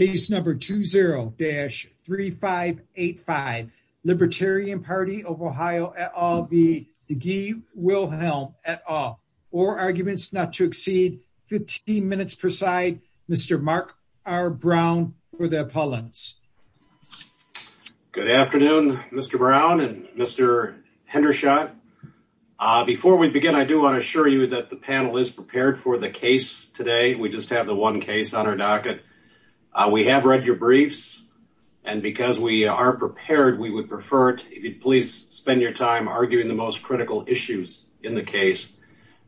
at all, or arguments not to exceed 15 minutes per side. Mr. Mark R. Brown, for the appellants. Good afternoon, Mr. Brown and Mr. Hendershot. Before we begin, I do want to assure you that the panel is prepared for the case today. We just have the one case on our docket. We have read your briefs, and because we are prepared, we would prefer it if you'd please spend your time arguing the most critical issues in the case.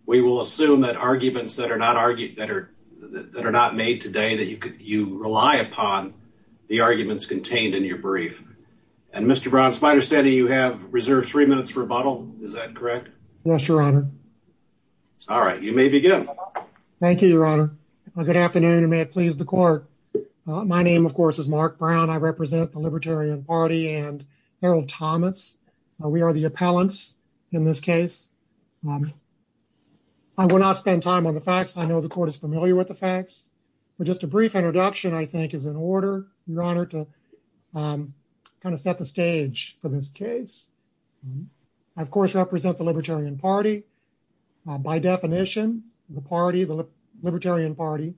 We will assume that arguments that are not made today, that you rely upon the arguments contained in your brief. And Mr. Brown, as Spider said, you have reserved three minutes for rebuttal. Is that correct? Yes, Your Honor. All right, you may begin. Thank you, Your Honor. Good afternoon, and may it please the court. My name, of course, is Mark Brown. I represent the Libertarian Party and Harold Thomas. We are the appellants in this case. I will not spend time on the facts. I know the court is familiar with the facts. But just a brief introduction, I think, is in order, Your Honor, to kind of set the stage for this case. I, of course, represent the Libertarian Party. By definition, the party, the Libertarian Party,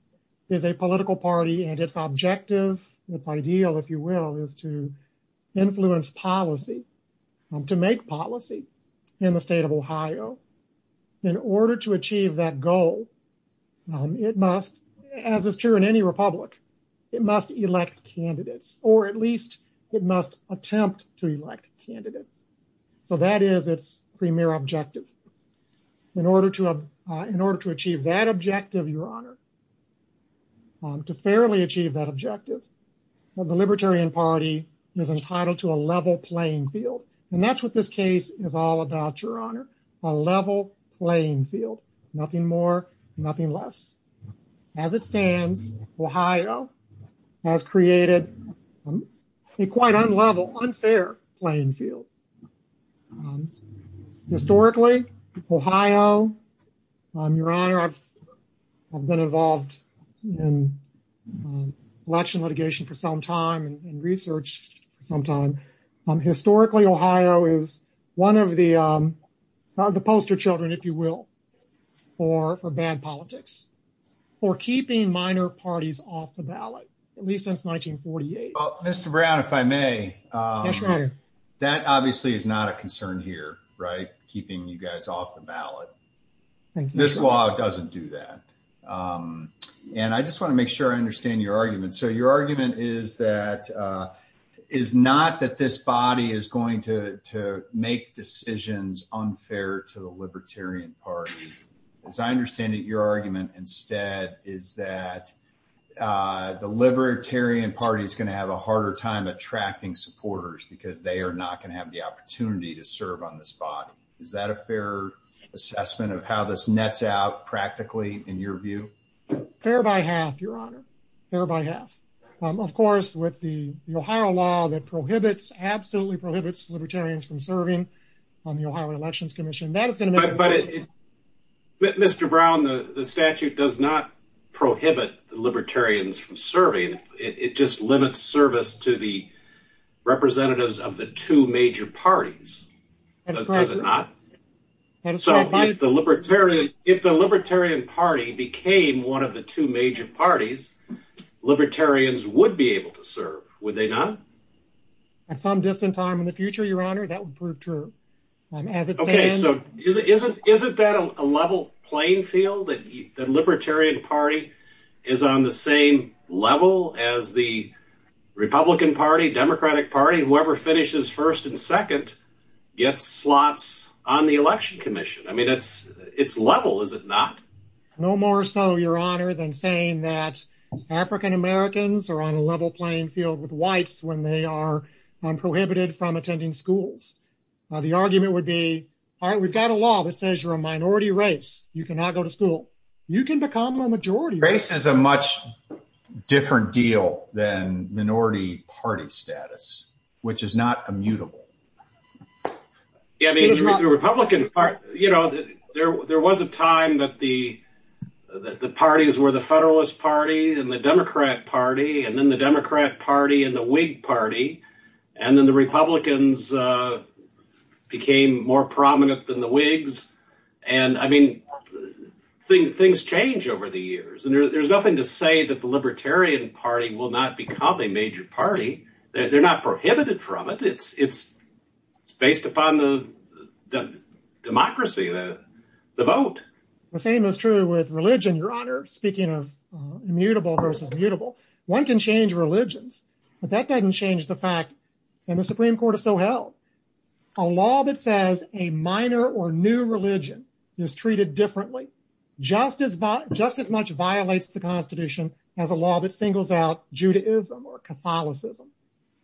is a political party, and its objective, its ideal, if you will, is to influence policy, to make policy in the state of Ohio. In order to achieve that goal, it must, as is true in any republic, it must elect candidates, or at least it must attempt to elect candidates. So that is its premier objective. In order to achieve that objective, Your Honor, to fairly achieve that objective, the Libertarian Party is entitled to a level playing field. And that's what this case is all about, Your Honor, a level playing field, nothing more, nothing less. As it stands, Ohio has created a quite unlevel, unfair playing field. Historically, Ohio, Your Honor, I've been involved in election litigation for some time and researched for some time. Historically, Ohio is one of the poster children, if you will, for bad politics, for keeping minor parties off the ballot, at least since 1948. Well, Mr. Brown, if I may, that obviously is not a concern here, right, keeping you guys off the ballot. This law doesn't do that. And I just want to make sure I understand your argument. So your argument is that, is not that this body is going to make decisions unfair to the Libertarian Party. As I understand it, your argument instead is that the Libertarian Party is going to have a harder time attracting supporters because they are not going to have the opportunity to serve on this body. Is that a fair assessment of how this nets out practically in your view? Fair by half, Your Honor. Fair by half. Of course, with the Ohio law that prohibits, absolutely prohibits Libertarians from serving on the Ohio Elections Commission, that is going to make a difference. But Mr. Brown, the statute does not prohibit Libertarians from serving. It just limits service to the representatives of the two major parties, does it not? So if the Libertarian Party became one of the two major parties, Libertarians would be able to serve, would they not? At some distant time in the future, Your Honor, that would prove true. Okay, so isn't that a level playing field that the Libertarian Party is on the same level as the Republican Party, Democratic Party, whoever finishes first and second gets slots on the Election Commission. I mean, it's level, is it not? No more so, Your Honor, than saying that African Americans are on a level playing field with whites when they are prohibited from attending schools. The argument would be, all right, we've got a law that says you're a minority race. You cannot go to school. You can become a majority race. Race is a much different deal than minority party status, which is not immutable. Yeah, I mean, the Republican Party, you know, there was a time that the parties were the Federalist Party and the Democrat Party and then the Democrat Party and the Whig Party. And then the Republicans became more prominent than the Whigs. And I mean, things change over the years. And there's nothing to say that the Libertarian Party will not become a major party. They're not prohibited from it. It's based upon the democracy, the vote. The same is true with religion, Your Honor, speaking of immutable versus mutable. One can change religions, but that doesn't change the fact that the Supreme Court is so held. A law that says a minor or new religion is treated differently, just as much violates the Constitution as a law that singles out Judaism or Catholicism.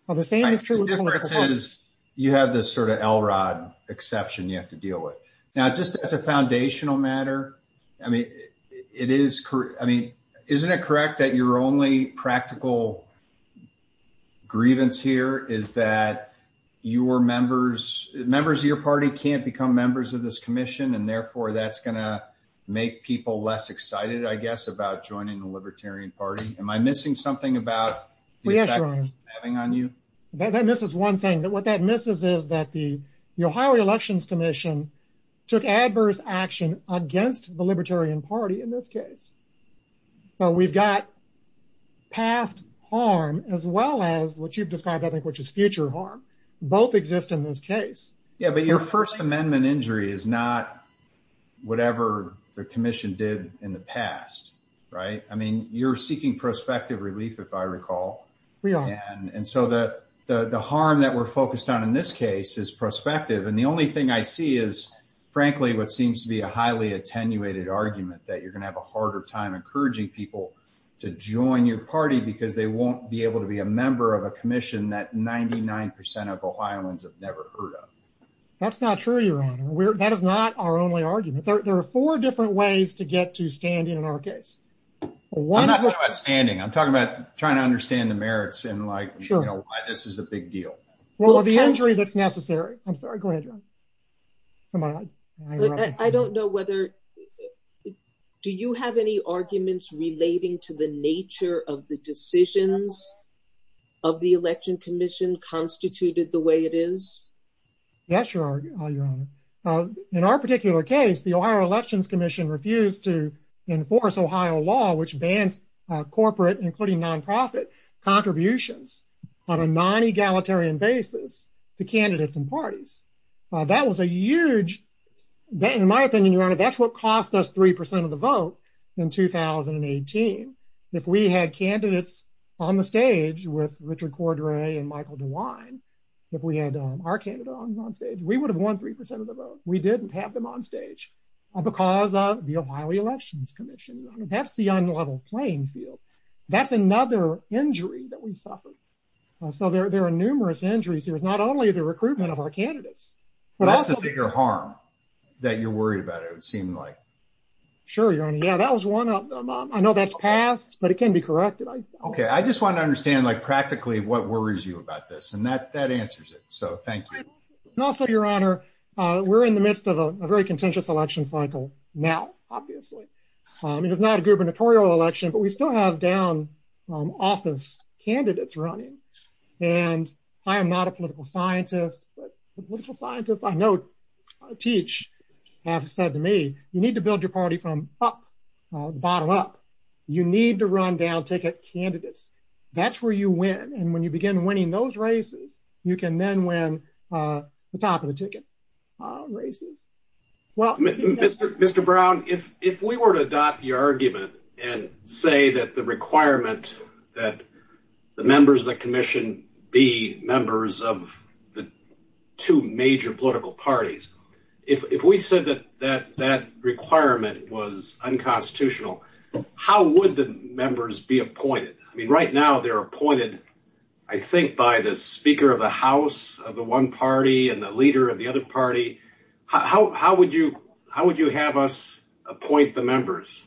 The difference is you have this sort of Elrod exception you have to deal with. Now, just as a foundational matter, I mean, it is. I mean, isn't it correct that your only practical grievance here is that your members, members of your party can't become members of this commission? And therefore, that's going to make people less excited, I guess, about joining the Libertarian Party. Am I missing something about having on you? This is one thing that what that misses is that the Ohio Elections Commission took adverse action against the Libertarian Party in this case. So we've got past harm as well as what you've described, I think, which is future harm. Both exist in this case. Yeah, but your First Amendment injury is not whatever the commission did in the past. Right. I mean, you're seeking prospective relief, if I recall. We are. And so that the harm that we're focused on in this case is prospective. And the only thing I see is, frankly, what seems to be a highly attenuated argument, that you're going to have a harder time encouraging people to join your party because they won't be able to be a member of a commission that 99 percent of Ohioans have never heard of. That's not true. That is not our only argument. There are four different ways to get to stand in our case. I'm not talking about standing. I'm talking about trying to understand the merits and why this is a big deal. Well, the injury that's necessary. I'm sorry. Go ahead. I don't know whether. Do you have any arguments relating to the nature of the decisions of the Election Commission constituted the way it is? Yes, your honor. In our particular case, the Ohio Elections Commission refused to enforce Ohio law, which bans corporate, including nonprofit contributions on a non egalitarian basis to candidates and parties. That was a huge, in my opinion, your honor, that's what cost us three percent of the vote in 2018. If we had candidates on the stage with Richard Cordray and Michael DeWine, if we had our candidate on stage, we would have won three percent of the vote. We didn't have them on stage because of the Ohio Elections Commission. That's the unlevel playing field. That's another injury that we suffered. So there are numerous injuries. There's not only the recruitment of our candidates. Well, that's the bigger harm that you're worried about. It would seem like. Sure, your honor. Yeah, that was one of them. I know that's passed, but it can be corrected. OK, I just want to understand, like, practically what worries you about this and that that answers it. So thank you. And also, your honor, we're in the midst of a very contentious election cycle now, obviously. I mean, it's not a gubernatorial election, but we still have down office candidates running. And I am not a political scientist, but political scientists I know teach have said to me, you need to build your party from up, bottom up. You need to run down ticket candidates. That's where you win. And when you begin winning those races, you can then win the top of the ticket races. Well, Mr. Brown, if if we were to adopt your argument and say that the requirement that the members of the commission be members of the two major political parties, if we said that that that requirement was unconstitutional, how would the members be appointed? I mean, right now they're appointed, I think, by the speaker of the House of the one party and the leader of the other party. How how would you how would you have us appoint the members?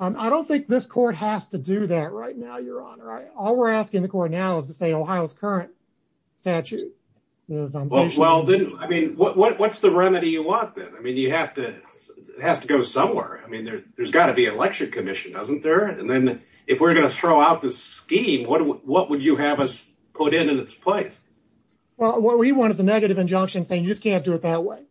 I don't think this court has to do that right now, your honor. All we're asking the court now is to say Ohio's current statute. Well, I mean, what's the remedy you want then? I mean, you have to it has to go somewhere. I mean, there's got to be an election commission, doesn't there? And then if we're going to throw out the scheme, what would you have us put in its place? Well, what we want is a negative injunction saying you just can't do it that way.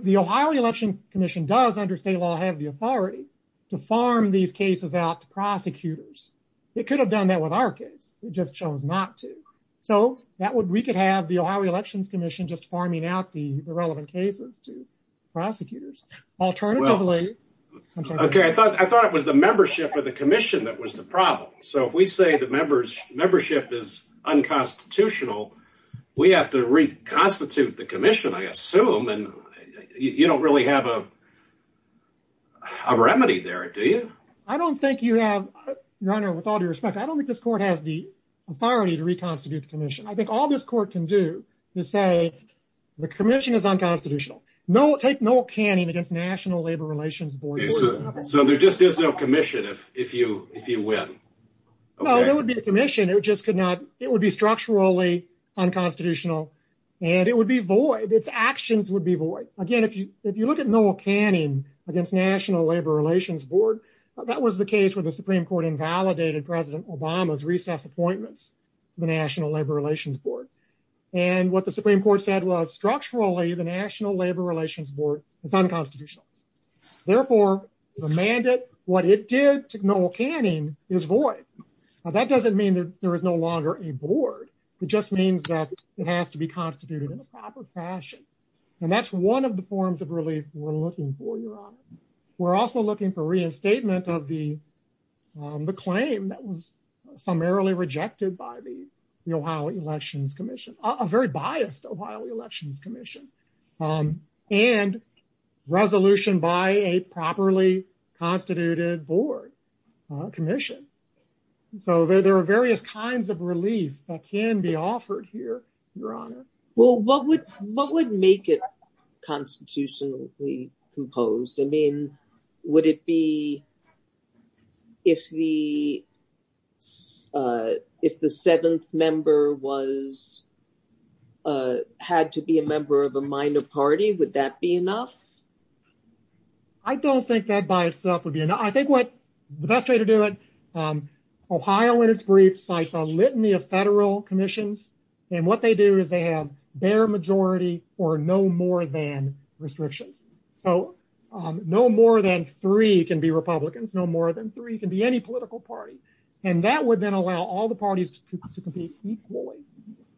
The Ohio Election Commission does under state law have the authority to farm these cases out to prosecutors. It could have done that with our case. We just chose not to. So that would we could have the Ohio Elections Commission just farming out the relevant cases to prosecutors. Alternatively, OK, I thought I thought it was the membership of the commission that was the problem. So if we say the members membership is unconstitutional, we have to reconstitute the commission, I assume. And you don't really have a remedy there, do you? I don't think you have your honor. With all due respect, I don't think this court has the authority to reconstitute the commission. I think all this court can do to say the commission is unconstitutional. No, take no canning against National Labor Relations Board. So there just is no commission. If if you if you win, no, there would be a commission. It just could not. It would be structurally unconstitutional and it would be void. Its actions would be void. Again, if you if you look at no canning against National Labor Relations Board, that was the case where the Supreme Court invalidated President Obama's recess appointments, the National Labor Relations Board. And what the Supreme Court said was structurally the National Labor Relations Board is unconstitutional. Therefore, the mandate, what it did to no canning is void. That doesn't mean there is no longer a board. It just means that it has to be constituted in the proper fashion. And that's one of the forms of relief we're looking for your honor. We're also looking for reinstatement of the the claim that was summarily rejected by the Ohio Elections Commission, a very biased Ohio Elections Commission and resolution by a properly constituted board commission. So there are various kinds of relief that can be offered here, your honor. Well, what would what would make it constitutionally composed? I mean, would it be if the if the seventh member was had to be a member of a minor party, would that be enough? I don't think that by itself would be enough. I think what the best way to do it. Ohio, in its brief, cites a litany of federal commissions. And what they do is they have their majority or no more than restrictions. So no more than three can be Republicans. No more than three can be any political party. And that would then allow all the parties to compete equally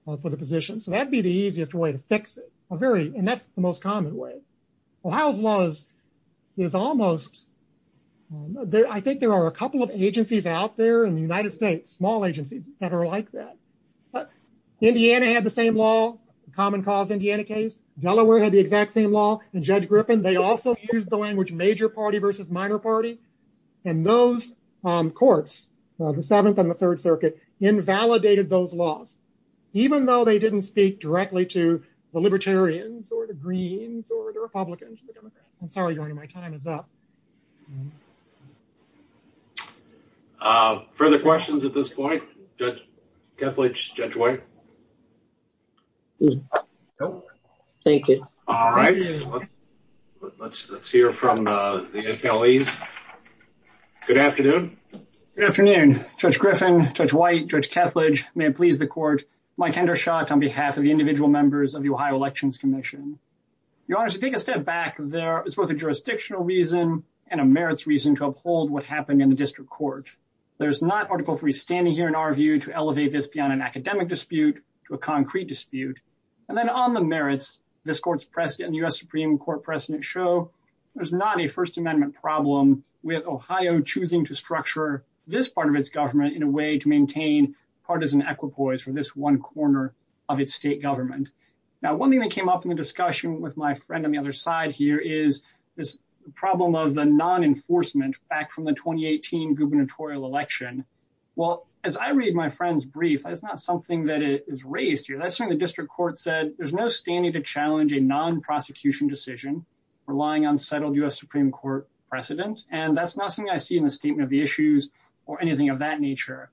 for the position. So that'd be the easiest way to fix it. A very. And that's the most common way. Ohio's laws is almost there. I think there are a couple of agencies out there in the United States, small agencies that are like that. Indiana had the same law, common cause, Indiana case. Delaware had the exact same law. And Judge Griffin, they also use the language major party versus minor party. And those courts, the Seventh and the Third Circuit, invalidated those laws, even though they didn't speak directly to the Libertarians or the Greens or the Republicans. I'm sorry. My time is up. Further questions at this point? Judge Kethledge, Judge White. Thank you. All right. Let's let's hear from the NPL. Good afternoon. Good afternoon, Judge Griffin, Judge White, Judge Kethledge. May it please the court, my tender shot on behalf of the individual members of the Ohio Elections Commission. Your Honor, to take a step back, there is both a jurisdictional reason and a merits reason to uphold what happened in the district court. There's not Article three standing here in our view to elevate this beyond an academic dispute to a concrete dispute. And then on the merits, this court's precedent, U.S. Supreme Court precedent show there's not a First Amendment problem with Ohio choosing to structure this part of its government in a way to maintain partisan equipoise for this one corner of its state government. Now, one thing that came up in the discussion with my friend on the other side here is this problem of the non-enforcement back from the 2018 gubernatorial election. Well, as I read my friend's brief, that's not something that is raised here. That's something the district court said. There's no standing to challenge a non-prosecution decision relying on settled U.S. Supreme Court precedent. And that's not something I see in the statement of the issues or anything of that nature.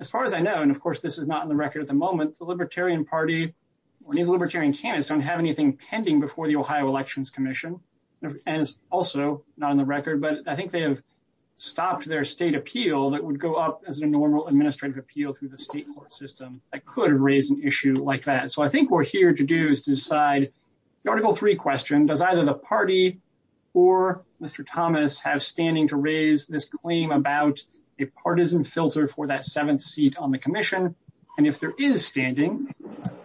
As far as I know, and of course, this is not in the record at the moment, the Libertarian Party or the Libertarian candidates don't have anything pending before the Ohio Elections Commission. And it's also not on the record, but I think they have stopped their state appeal that would go up as a normal administrative appeal through the state court system that could raise an issue like that. So I think what we're here to do is to decide, the Article 3 question, does either the party or Mr. Thomas have standing to raise this claim about a partisan filter for that seventh seat on the commission? And if there is standing,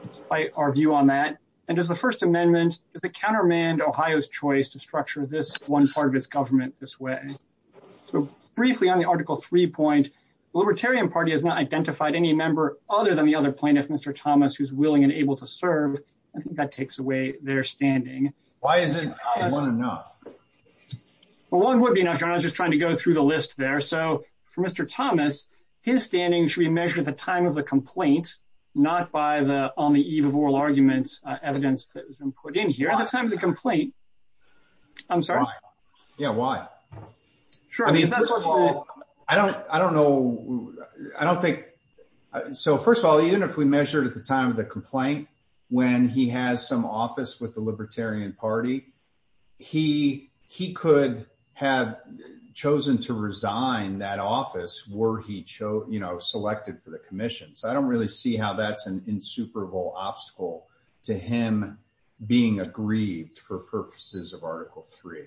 despite our view on that, and does the First Amendment, does it countermand Ohio's choice to structure this one part of its government this way? So briefly on the Article 3 point, the Libertarian Party has not identified any member other than the other plaintiff, Mr. Thomas, who's willing and able to serve. I think that takes away their standing. Why isn't one enough? Well, one would be enough. I was just trying to go through the list there. So for Mr. Thomas, his standing should be measured at the time of the complaint, not by the on the eve of oral arguments evidence that has been put in here at the time of the complaint. I'm sorry? Yeah, why? Sure. I mean, I don't know. I don't think. So first of all, even if we measured at the time of the complaint, when he has some office with the Libertarian Party, he could have chosen to resign that office were he, you know, selected for the commission. So I don't really see how that's an insuperable obstacle to him being aggrieved for purposes of Article 3.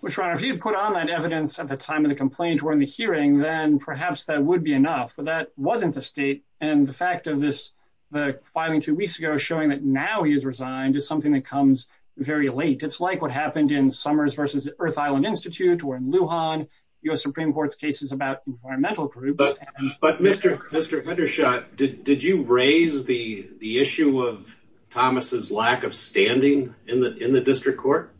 Well, Your Honor, if you put on that evidence at the time of the complaint or in the hearing, then perhaps that would be enough. But that wasn't the state. And the fact of this, the filing two weeks ago showing that now he's resigned is something that comes very late. It's like what happened in Summers v. Earth Island Institute or in Lujan, U.S. Supreme Court's cases about environmental groups. But Mr. Fendershot, did you raise the issue of Thomas's lack of standing in the district court?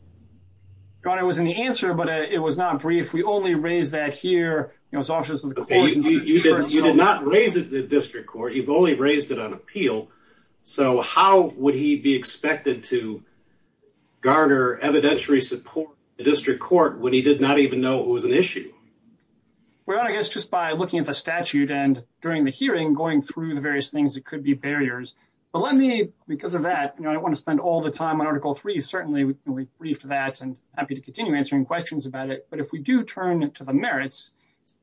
Your Honor, it was in the answer, but it was not brief. We only raised that here. You did not raise it in the district court. You've only raised it on appeal. So how would he be expected to garner evidentiary support in the district court when he did not even know it was an issue? Well, I guess just by looking at the statute and during the hearing, going through the various things, it could be barriers. But let me, because of that, you know, I don't want to spend all the time on Article 3. Certainly we briefed that and happy to continue answering questions about it. But if we do turn to the merits,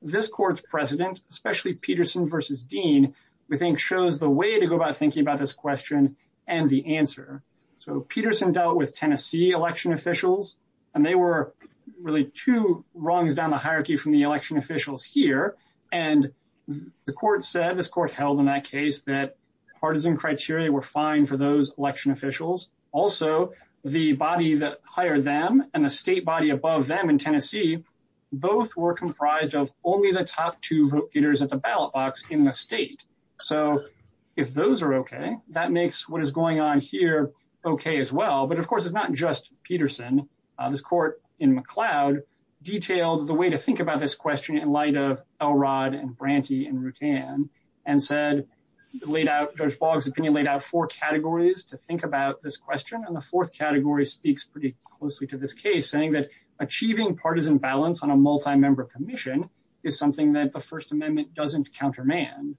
this court's precedent, especially Peterson v. Dean, we think shows the way to go about thinking about this question and the answer. So Peterson dealt with Tennessee election officials, and they were really two rungs down the hierarchy from the election officials here. And the court said, this court held in that case, that partisan criteria were fine for those election officials. Also, the body that hired them and the state body above them in Tennessee, both were comprised of only the top two voters at the ballot box in the state. So if those are okay, that makes what is going on here okay as well. But of course, it's not just Peterson. This court in McLeod detailed the way to think about this question in light of Elrod and Branty and Rutan and said, laid out, Judge Boggs' opinion laid out four categories to think about this question. And the fourth category speaks pretty closely to this case, saying that achieving partisan balance on a multi-member commission is something that the First Amendment doesn't countermand.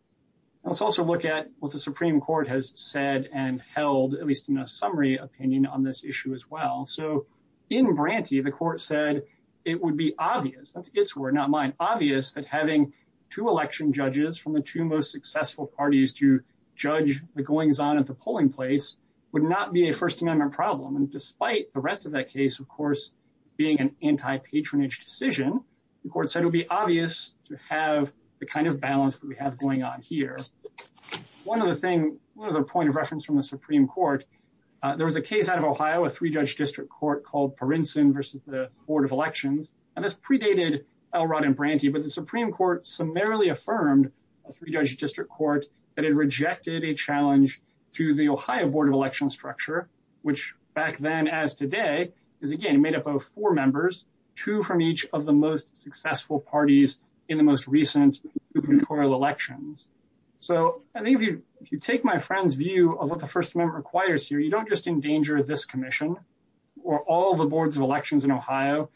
Let's also look at what the Supreme Court has said and held, at least in a summary opinion on this issue as well. So in Branty, the court said it would be obvious, that's its word, not mine, obvious that having two election judges from the two most successful parties to judge the goings on at the polling place would not be a First Amendment problem. And despite the rest of that case, of course, being an anti-patronage decision, the court said it would be obvious to have the kind of balance that we have going on here. One other thing, one other point of reference from the Supreme Court, there was a case out of Ohio, a three-judge district court called Parinson versus the Board of Elections, and this predated Elrod and Branty, but the Supreme Court summarily affirmed, a three-judge district court, that it rejected a challenge to the Ohio Board of Elections structure, which back then as today, is again made up of four members, two from each of the most successful parties in the most recent electoral elections. So I think if you take my friend's view of what the First Amendment requires here, you don't just endanger this commission or all the boards of elections in Ohio.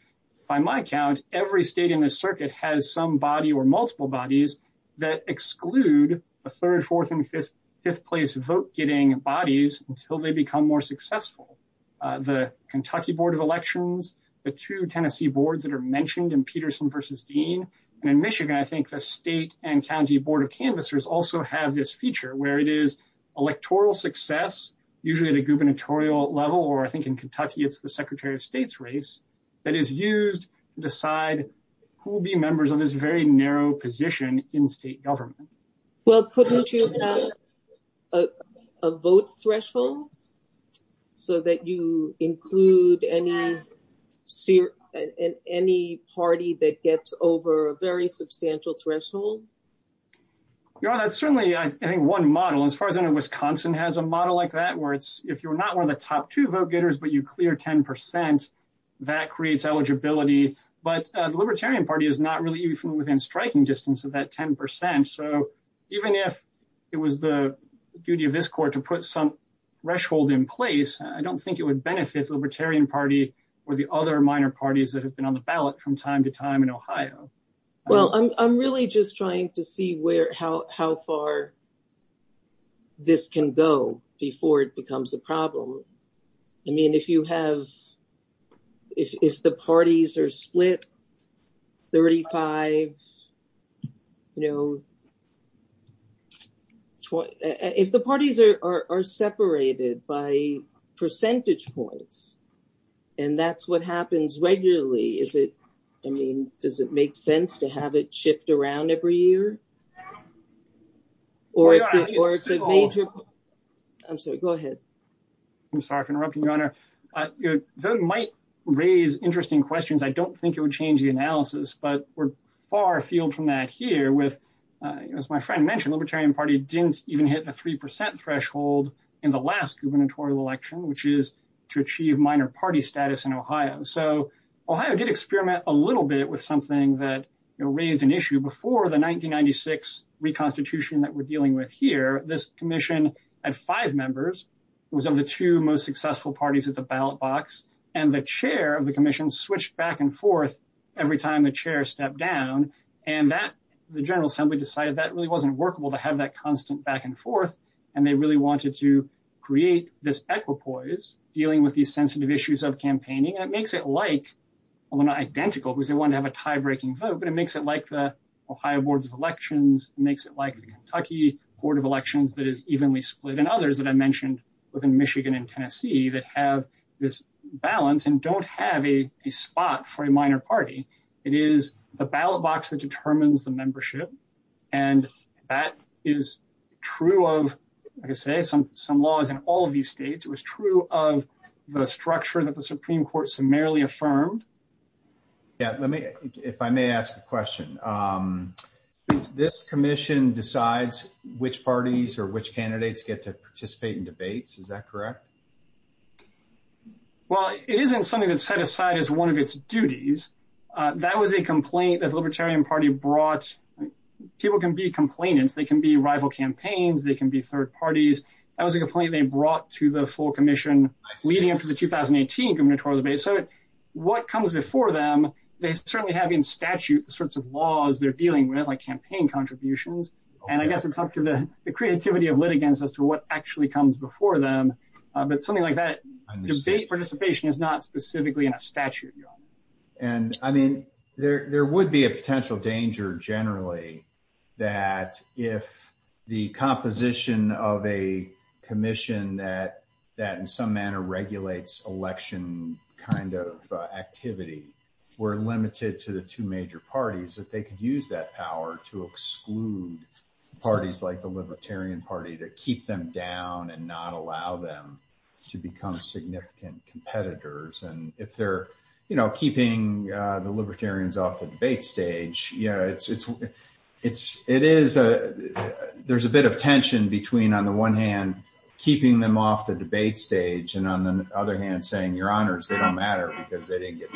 By my count, every state in the circuit has some body or multiple bodies that exclude the third, fourth, and fifth place vote-getting bodies until they become more successful. The Kentucky Board of Elections, the two Tennessee boards that are mentioned in Peterson versus Dean, and in Michigan, I think the state and county board of canvassers also have this feature, where it is electoral success, usually at a gubernatorial level, or I think in Kentucky, it's the Secretary of State's race, that is used to decide who will be members of this very narrow position in state government. Well, couldn't you have a vote threshold, so that you include any party that gets over a very substantial threshold? Yeah, that's certainly, I think, one model. As far as I know, Wisconsin has a model like that, where if you're not one of the top two vote-getters, but you clear 10%, that creates eligibility. But the Libertarian Party is not really even within striking distance of that 10%, so even if it was the duty of this court to put some threshold in place, I don't think it would benefit the Libertarian Party or the other minor parties that have been on the ballot from time to time in Ohio. Well, I'm really just trying to see how far this can go before it becomes a problem. I mean, if you have, if the parties are split 35, you know, if the parties are separated by percentage points, and that's what happens regularly, is it, I mean, does it make sense to have it shift around every year? I'm sorry, go ahead. I'm sorry for interrupting, Your Honor. Voting might raise interesting questions. I don't think it would change the analysis, but we're far afield from that here with, as my friend mentioned, Libertarian Party didn't even hit the 3% threshold in the last gubernatorial election, which is to achieve minor party status in Ohio. So Ohio did experiment a little bit with something that raised an issue before the 1996 reconstitution that we're dealing with here. This commission had five members, was of the two most successful parties at the ballot box, and the chair of the commission switched back and forth every time the chair stepped down, and that, the General Assembly decided that really wasn't workable to have that constant back and forth, and they really wanted to create this equipoise dealing with these sensitive issues of campaigning. And it makes it like, although not identical, because they wanted to have a tie-breaking vote, but it makes it like the Ohio Boards of Elections, makes it like the Kentucky Board of Elections that is evenly split, and others that I mentioned within Michigan and Tennessee that have this balance and don't have a spot for a minor party. It is the ballot box that determines the membership, and that is true of, like I say, some laws in all of these states. It was true of the structure that the Supreme Court summarily affirmed. Yeah, let me, if I may ask a question, this commission decides which parties or which candidates get to participate in debates, is that correct? Well, it isn't something that's set aside as one of its duties. That was a complaint that the Libertarian Party brought. People can be complainants, they can be rival campaigns, they can be third parties. That was a complaint they brought to the full commission leading up to the 2018 gubernatorial debate. So what comes before them, they certainly have in statute the sorts of laws they're dealing with, like campaign contributions, and I guess it's up to the creativity of litigants as to what actually comes before them, but something like that, debate participation is not specifically in a statute. And I mean, there would be a potential danger, generally, that if the composition of a commission that in some manner regulates election kind of activity were limited to the two major parties, that they could use that power to exclude parties like the Libertarian Party to keep them down and not allow them to become significant competitors. And if they're, you know, keeping the libertarians off the debate stage, yeah, it's, it's, it's, it is a, there's a bit of tension between on the one hand, keeping them off the debate stage, and on the other hand, saying, your honors, they don't matter because they didn't get.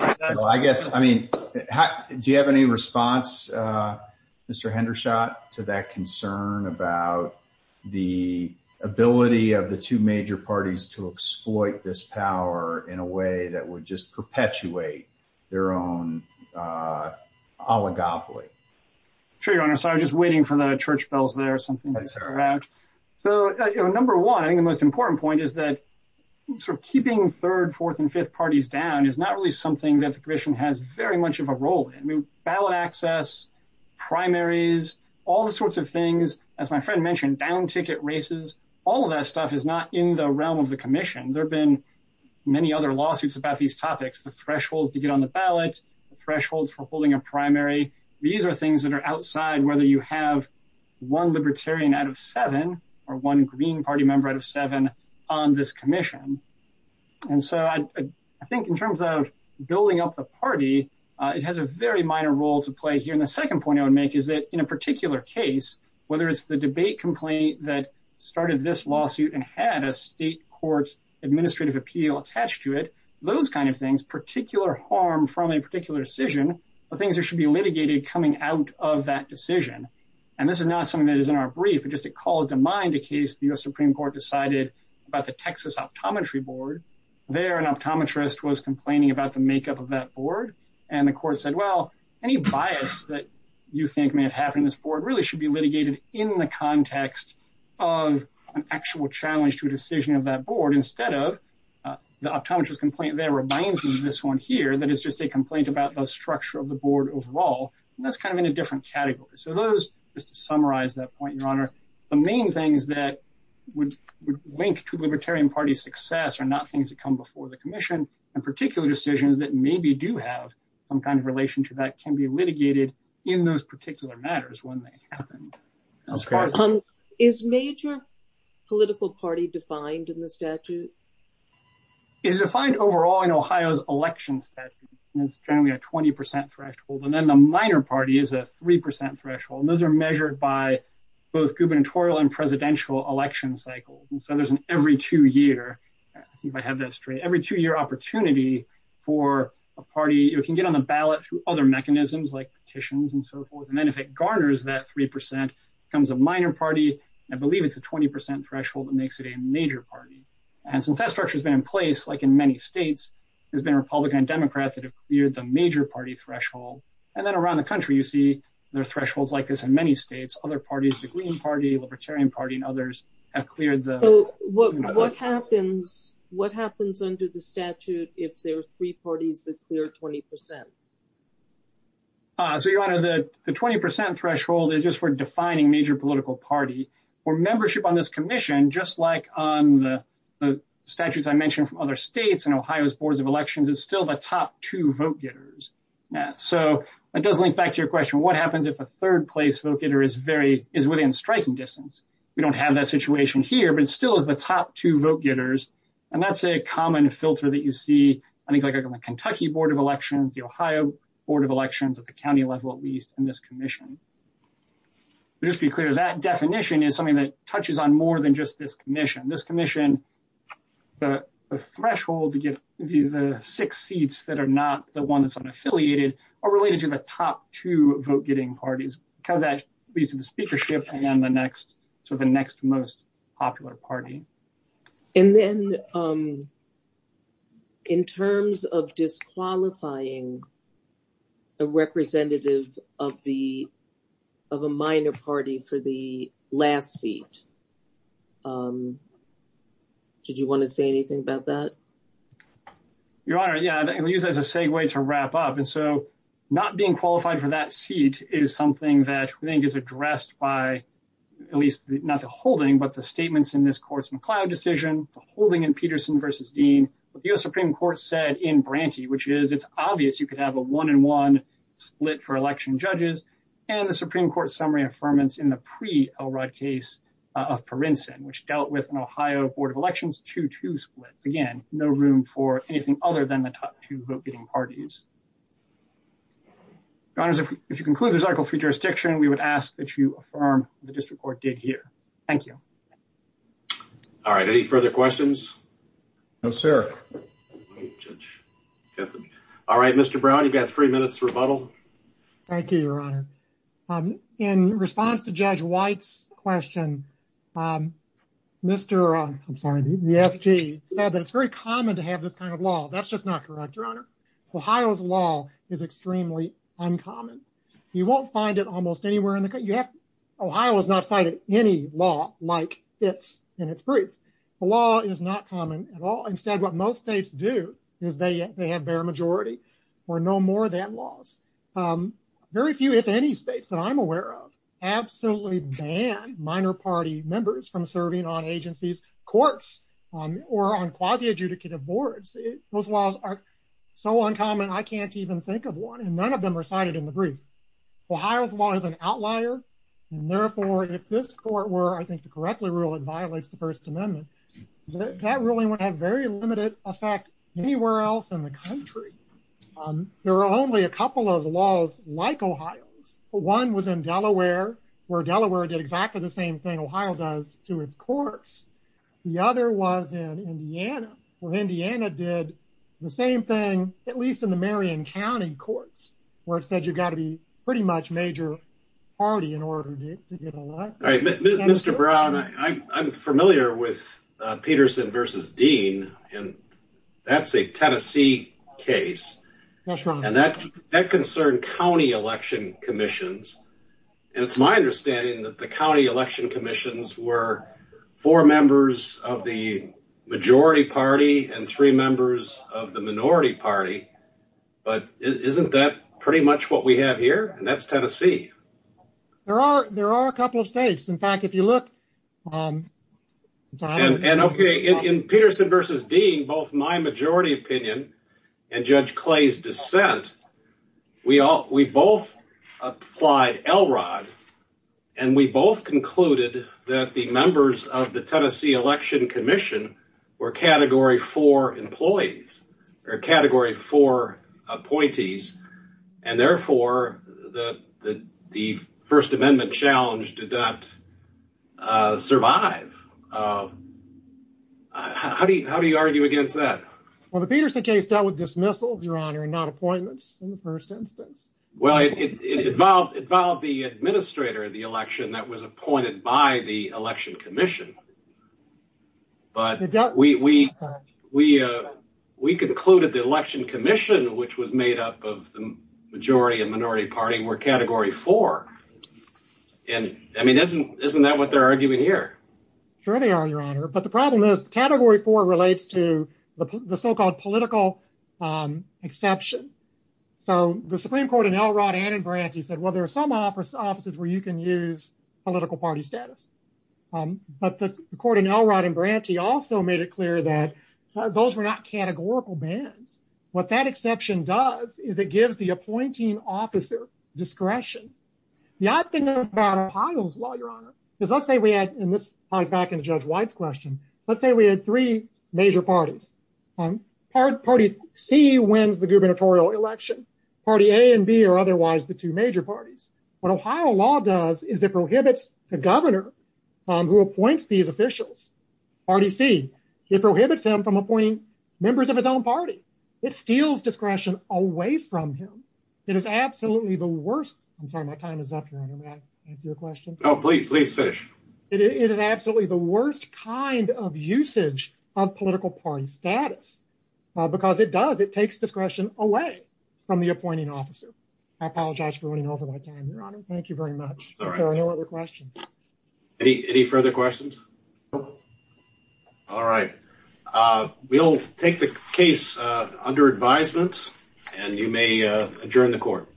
I guess, I mean, do you have any response, Mr. Hendershot to that concern about the ability of the two major parties to exploit this power in a way that would just perpetuate their own oligopoly. Sure, your honor, sorry, I was just waiting for the church bells there or something like that. So, number one, I think the most important point is that sort of keeping third, fourth and fifth parties down is not really something that the commission has very much of a role in. I mean, ballot access, primaries, all the sorts of things, as my friend mentioned, down ticket races, all of that stuff is not in the realm of the commission. There have been many other lawsuits about these topics, the thresholds to get on the ballot, the thresholds for holding a primary. These are things that are outside whether you have one libertarian out of seven, or one Green Party member out of seven on this commission. And so, I think in terms of building up the party, it has a very minor role to play here. And the second point I would make is that in a particular case, whether it's the debate complaint that started this lawsuit and had a state court administrative appeal attached to it, those kind of things, particular harm from a particular decision, are things that should be litigated coming out of that decision. And this is not something that is in our brief, it just calls to mind a case the U.S. Supreme Court decided about the Texas optometry board. There, an optometrist was complaining about the makeup of that board, and the court said, well, any bias that you think may have happened in this board really should be litigated in the context of an actual challenge to a decision of that board, but instead of, the optometrist complaint there reminds me of this one here, that it's just a complaint about the structure of the board overall, and that's kind of in a different category. So those, just to summarize that point, Your Honor, the main things that would link to libertarian party success are not things that come before the commission, and particular decisions that maybe do have some kind of relation to that can be litigated in those particular matters when they happened. Is major political party defined in the statute? It's defined overall in Ohio's election statute, and it's generally a 20% threshold, and then the minor party is a 3% threshold, and those are measured by both gubernatorial and presidential election cycles. So there's an every two year, if I have that straight, every two year opportunity for a party, it can get on the ballot through other mechanisms like petitions and so forth, and then if it garners that 3%, becomes a minor party, I believe it's a 20% threshold that makes it a major party. And since that structure has been in place, like in many states, there's been Republican and Democrat that have cleared the major party threshold, and then around the country you see there are thresholds like this in many states, other parties, the Green Party, Libertarian Party, and others have cleared the... What happens under the statute if there are three parties that clear 20%? So, Your Honor, the 20% threshold is just for defining major political party. For membership on this commission, just like on the statutes I mentioned from other states and Ohio's boards of elections, it's still the top two vote getters. So that does link back to your question, what happens if a third place vote getter is within striking distance? We don't have that situation here, but it still is the top two vote getters. And that's a common filter that you see, I think, like on the Kentucky Board of Elections, the Ohio Board of Elections at the county level, at least, in this commission. Just to be clear, that definition is something that touches on more than just this commission. This commission, the threshold to get the six seats that are not the one that's unaffiliated are related to the top two vote getting parties, because that leads to the speakership and then the next, so the next most popular party. And then, in terms of disqualifying a representative of a minor party for the last seat, did you want to say anything about that? Your Honor, yeah, I'll use that as a segue to wrap up. And so, not being qualified for that seat is something that I think is addressed by, at least, not the holding, but the statements in this court's McLeod decision, the holding in Peterson v. Dean, what the U.S. Supreme Court said in Branty, which is, it's obvious you could have a one-and-one split for election judges, and the Supreme Court summary affirmance in the pre-Elrod case of Parinson, which dealt with an Ohio Board of Elections 2-2 split. Again, no room for anything other than the top two vote-getting parties. Your Honors, if you conclude this Article III jurisdiction, we would ask that you affirm what the district court did here. Thank you. All right, any further questions? No, sir. All right, Mr. Brown, you've got three minutes to rebuttal. Thank you, Your Honor. In response to Judge White's question, Mr., I'm sorry, the SG, said that it's very common to have this kind of law. That's just not correct, Your Honor. Ohio's law is extremely uncommon. You won't find it almost anywhere in the country. Ohio has not cited any law like this in its brief. The law is not common at all. Instead, what most states do is they have bare majority or no more than laws. Very few, if any, states that I'm aware of absolutely ban minor party members from serving on agencies, courts, or on quasi-adjudicative boards. Those laws are so uncommon, I can't even think of one, and none of them are cited in the brief. Ohio's law is an outlier, and therefore, if this court were, I think, to correctly rule, it violates the First Amendment. That ruling would have very limited effect anywhere else in the country. There are only a couple of laws like Ohio's. One was in Delaware, where Delaware did exactly the same thing Ohio does to its courts. The other was in Indiana, where Indiana did the same thing, at least in the Marion County courts, where it said you've got to be pretty much major party in order to get elected. Mr. Brown, I'm familiar with Peterson v. Dean, and that's a Tennessee case. Yes, Your Honor. And that concerned county election commissions, and it's my understanding that the county election commissions were four members of the majority party and three members of the minority party. But isn't that pretty much what we have here? And that's Tennessee. There are a couple of states. In fact, if you look. And in Peterson v. Dean, both my majority opinion and Judge Clay's dissent, we both applied Elrod, and we both concluded that the members of the Tennessee Election Commission were Category 4 employees or Category 4 appointees. And therefore, the First Amendment challenge did not survive. How do you argue against that? Well, the Peterson case dealt with dismissals, Your Honor, and not appointments in the first instance. Well, it involved the administrator of the election that was appointed by the election commission. But we concluded the election commission, which was made up of the majority and minority party, were Category 4. And, I mean, isn't that what they're arguing here? Sure they are, Your Honor. But the problem is Category 4 relates to the so-called political exception. So the Supreme Court in Elrod and in Branty said, well, there are some offices where you can use political party status. But the court in Elrod and Branty also made it clear that those were not categorical bans. What that exception does is it gives the appointing officer discretion. The odd thing about Ohio's law, Your Honor, is let's say we had, and this ties back into Judge White's question, let's say we had three major parties. Party C wins the gubernatorial election. Party A and B are otherwise the two major parties. What Ohio law does is it prohibits the governor who appoints these officials, Party C, it prohibits him from appointing members of his own party. It steals discretion away from him. It is absolutely the worst. I'm sorry, my time is up, Your Honor. May I ask you a question? Oh, please finish. It is absolutely the worst kind of usage of political party status. Because it does, it takes discretion away from the appointing officer. I apologize for running over my time, Your Honor. Thank you very much. Are there any other questions? Any further questions? No. All right. We'll take the case under advisement, and you may adjourn the court.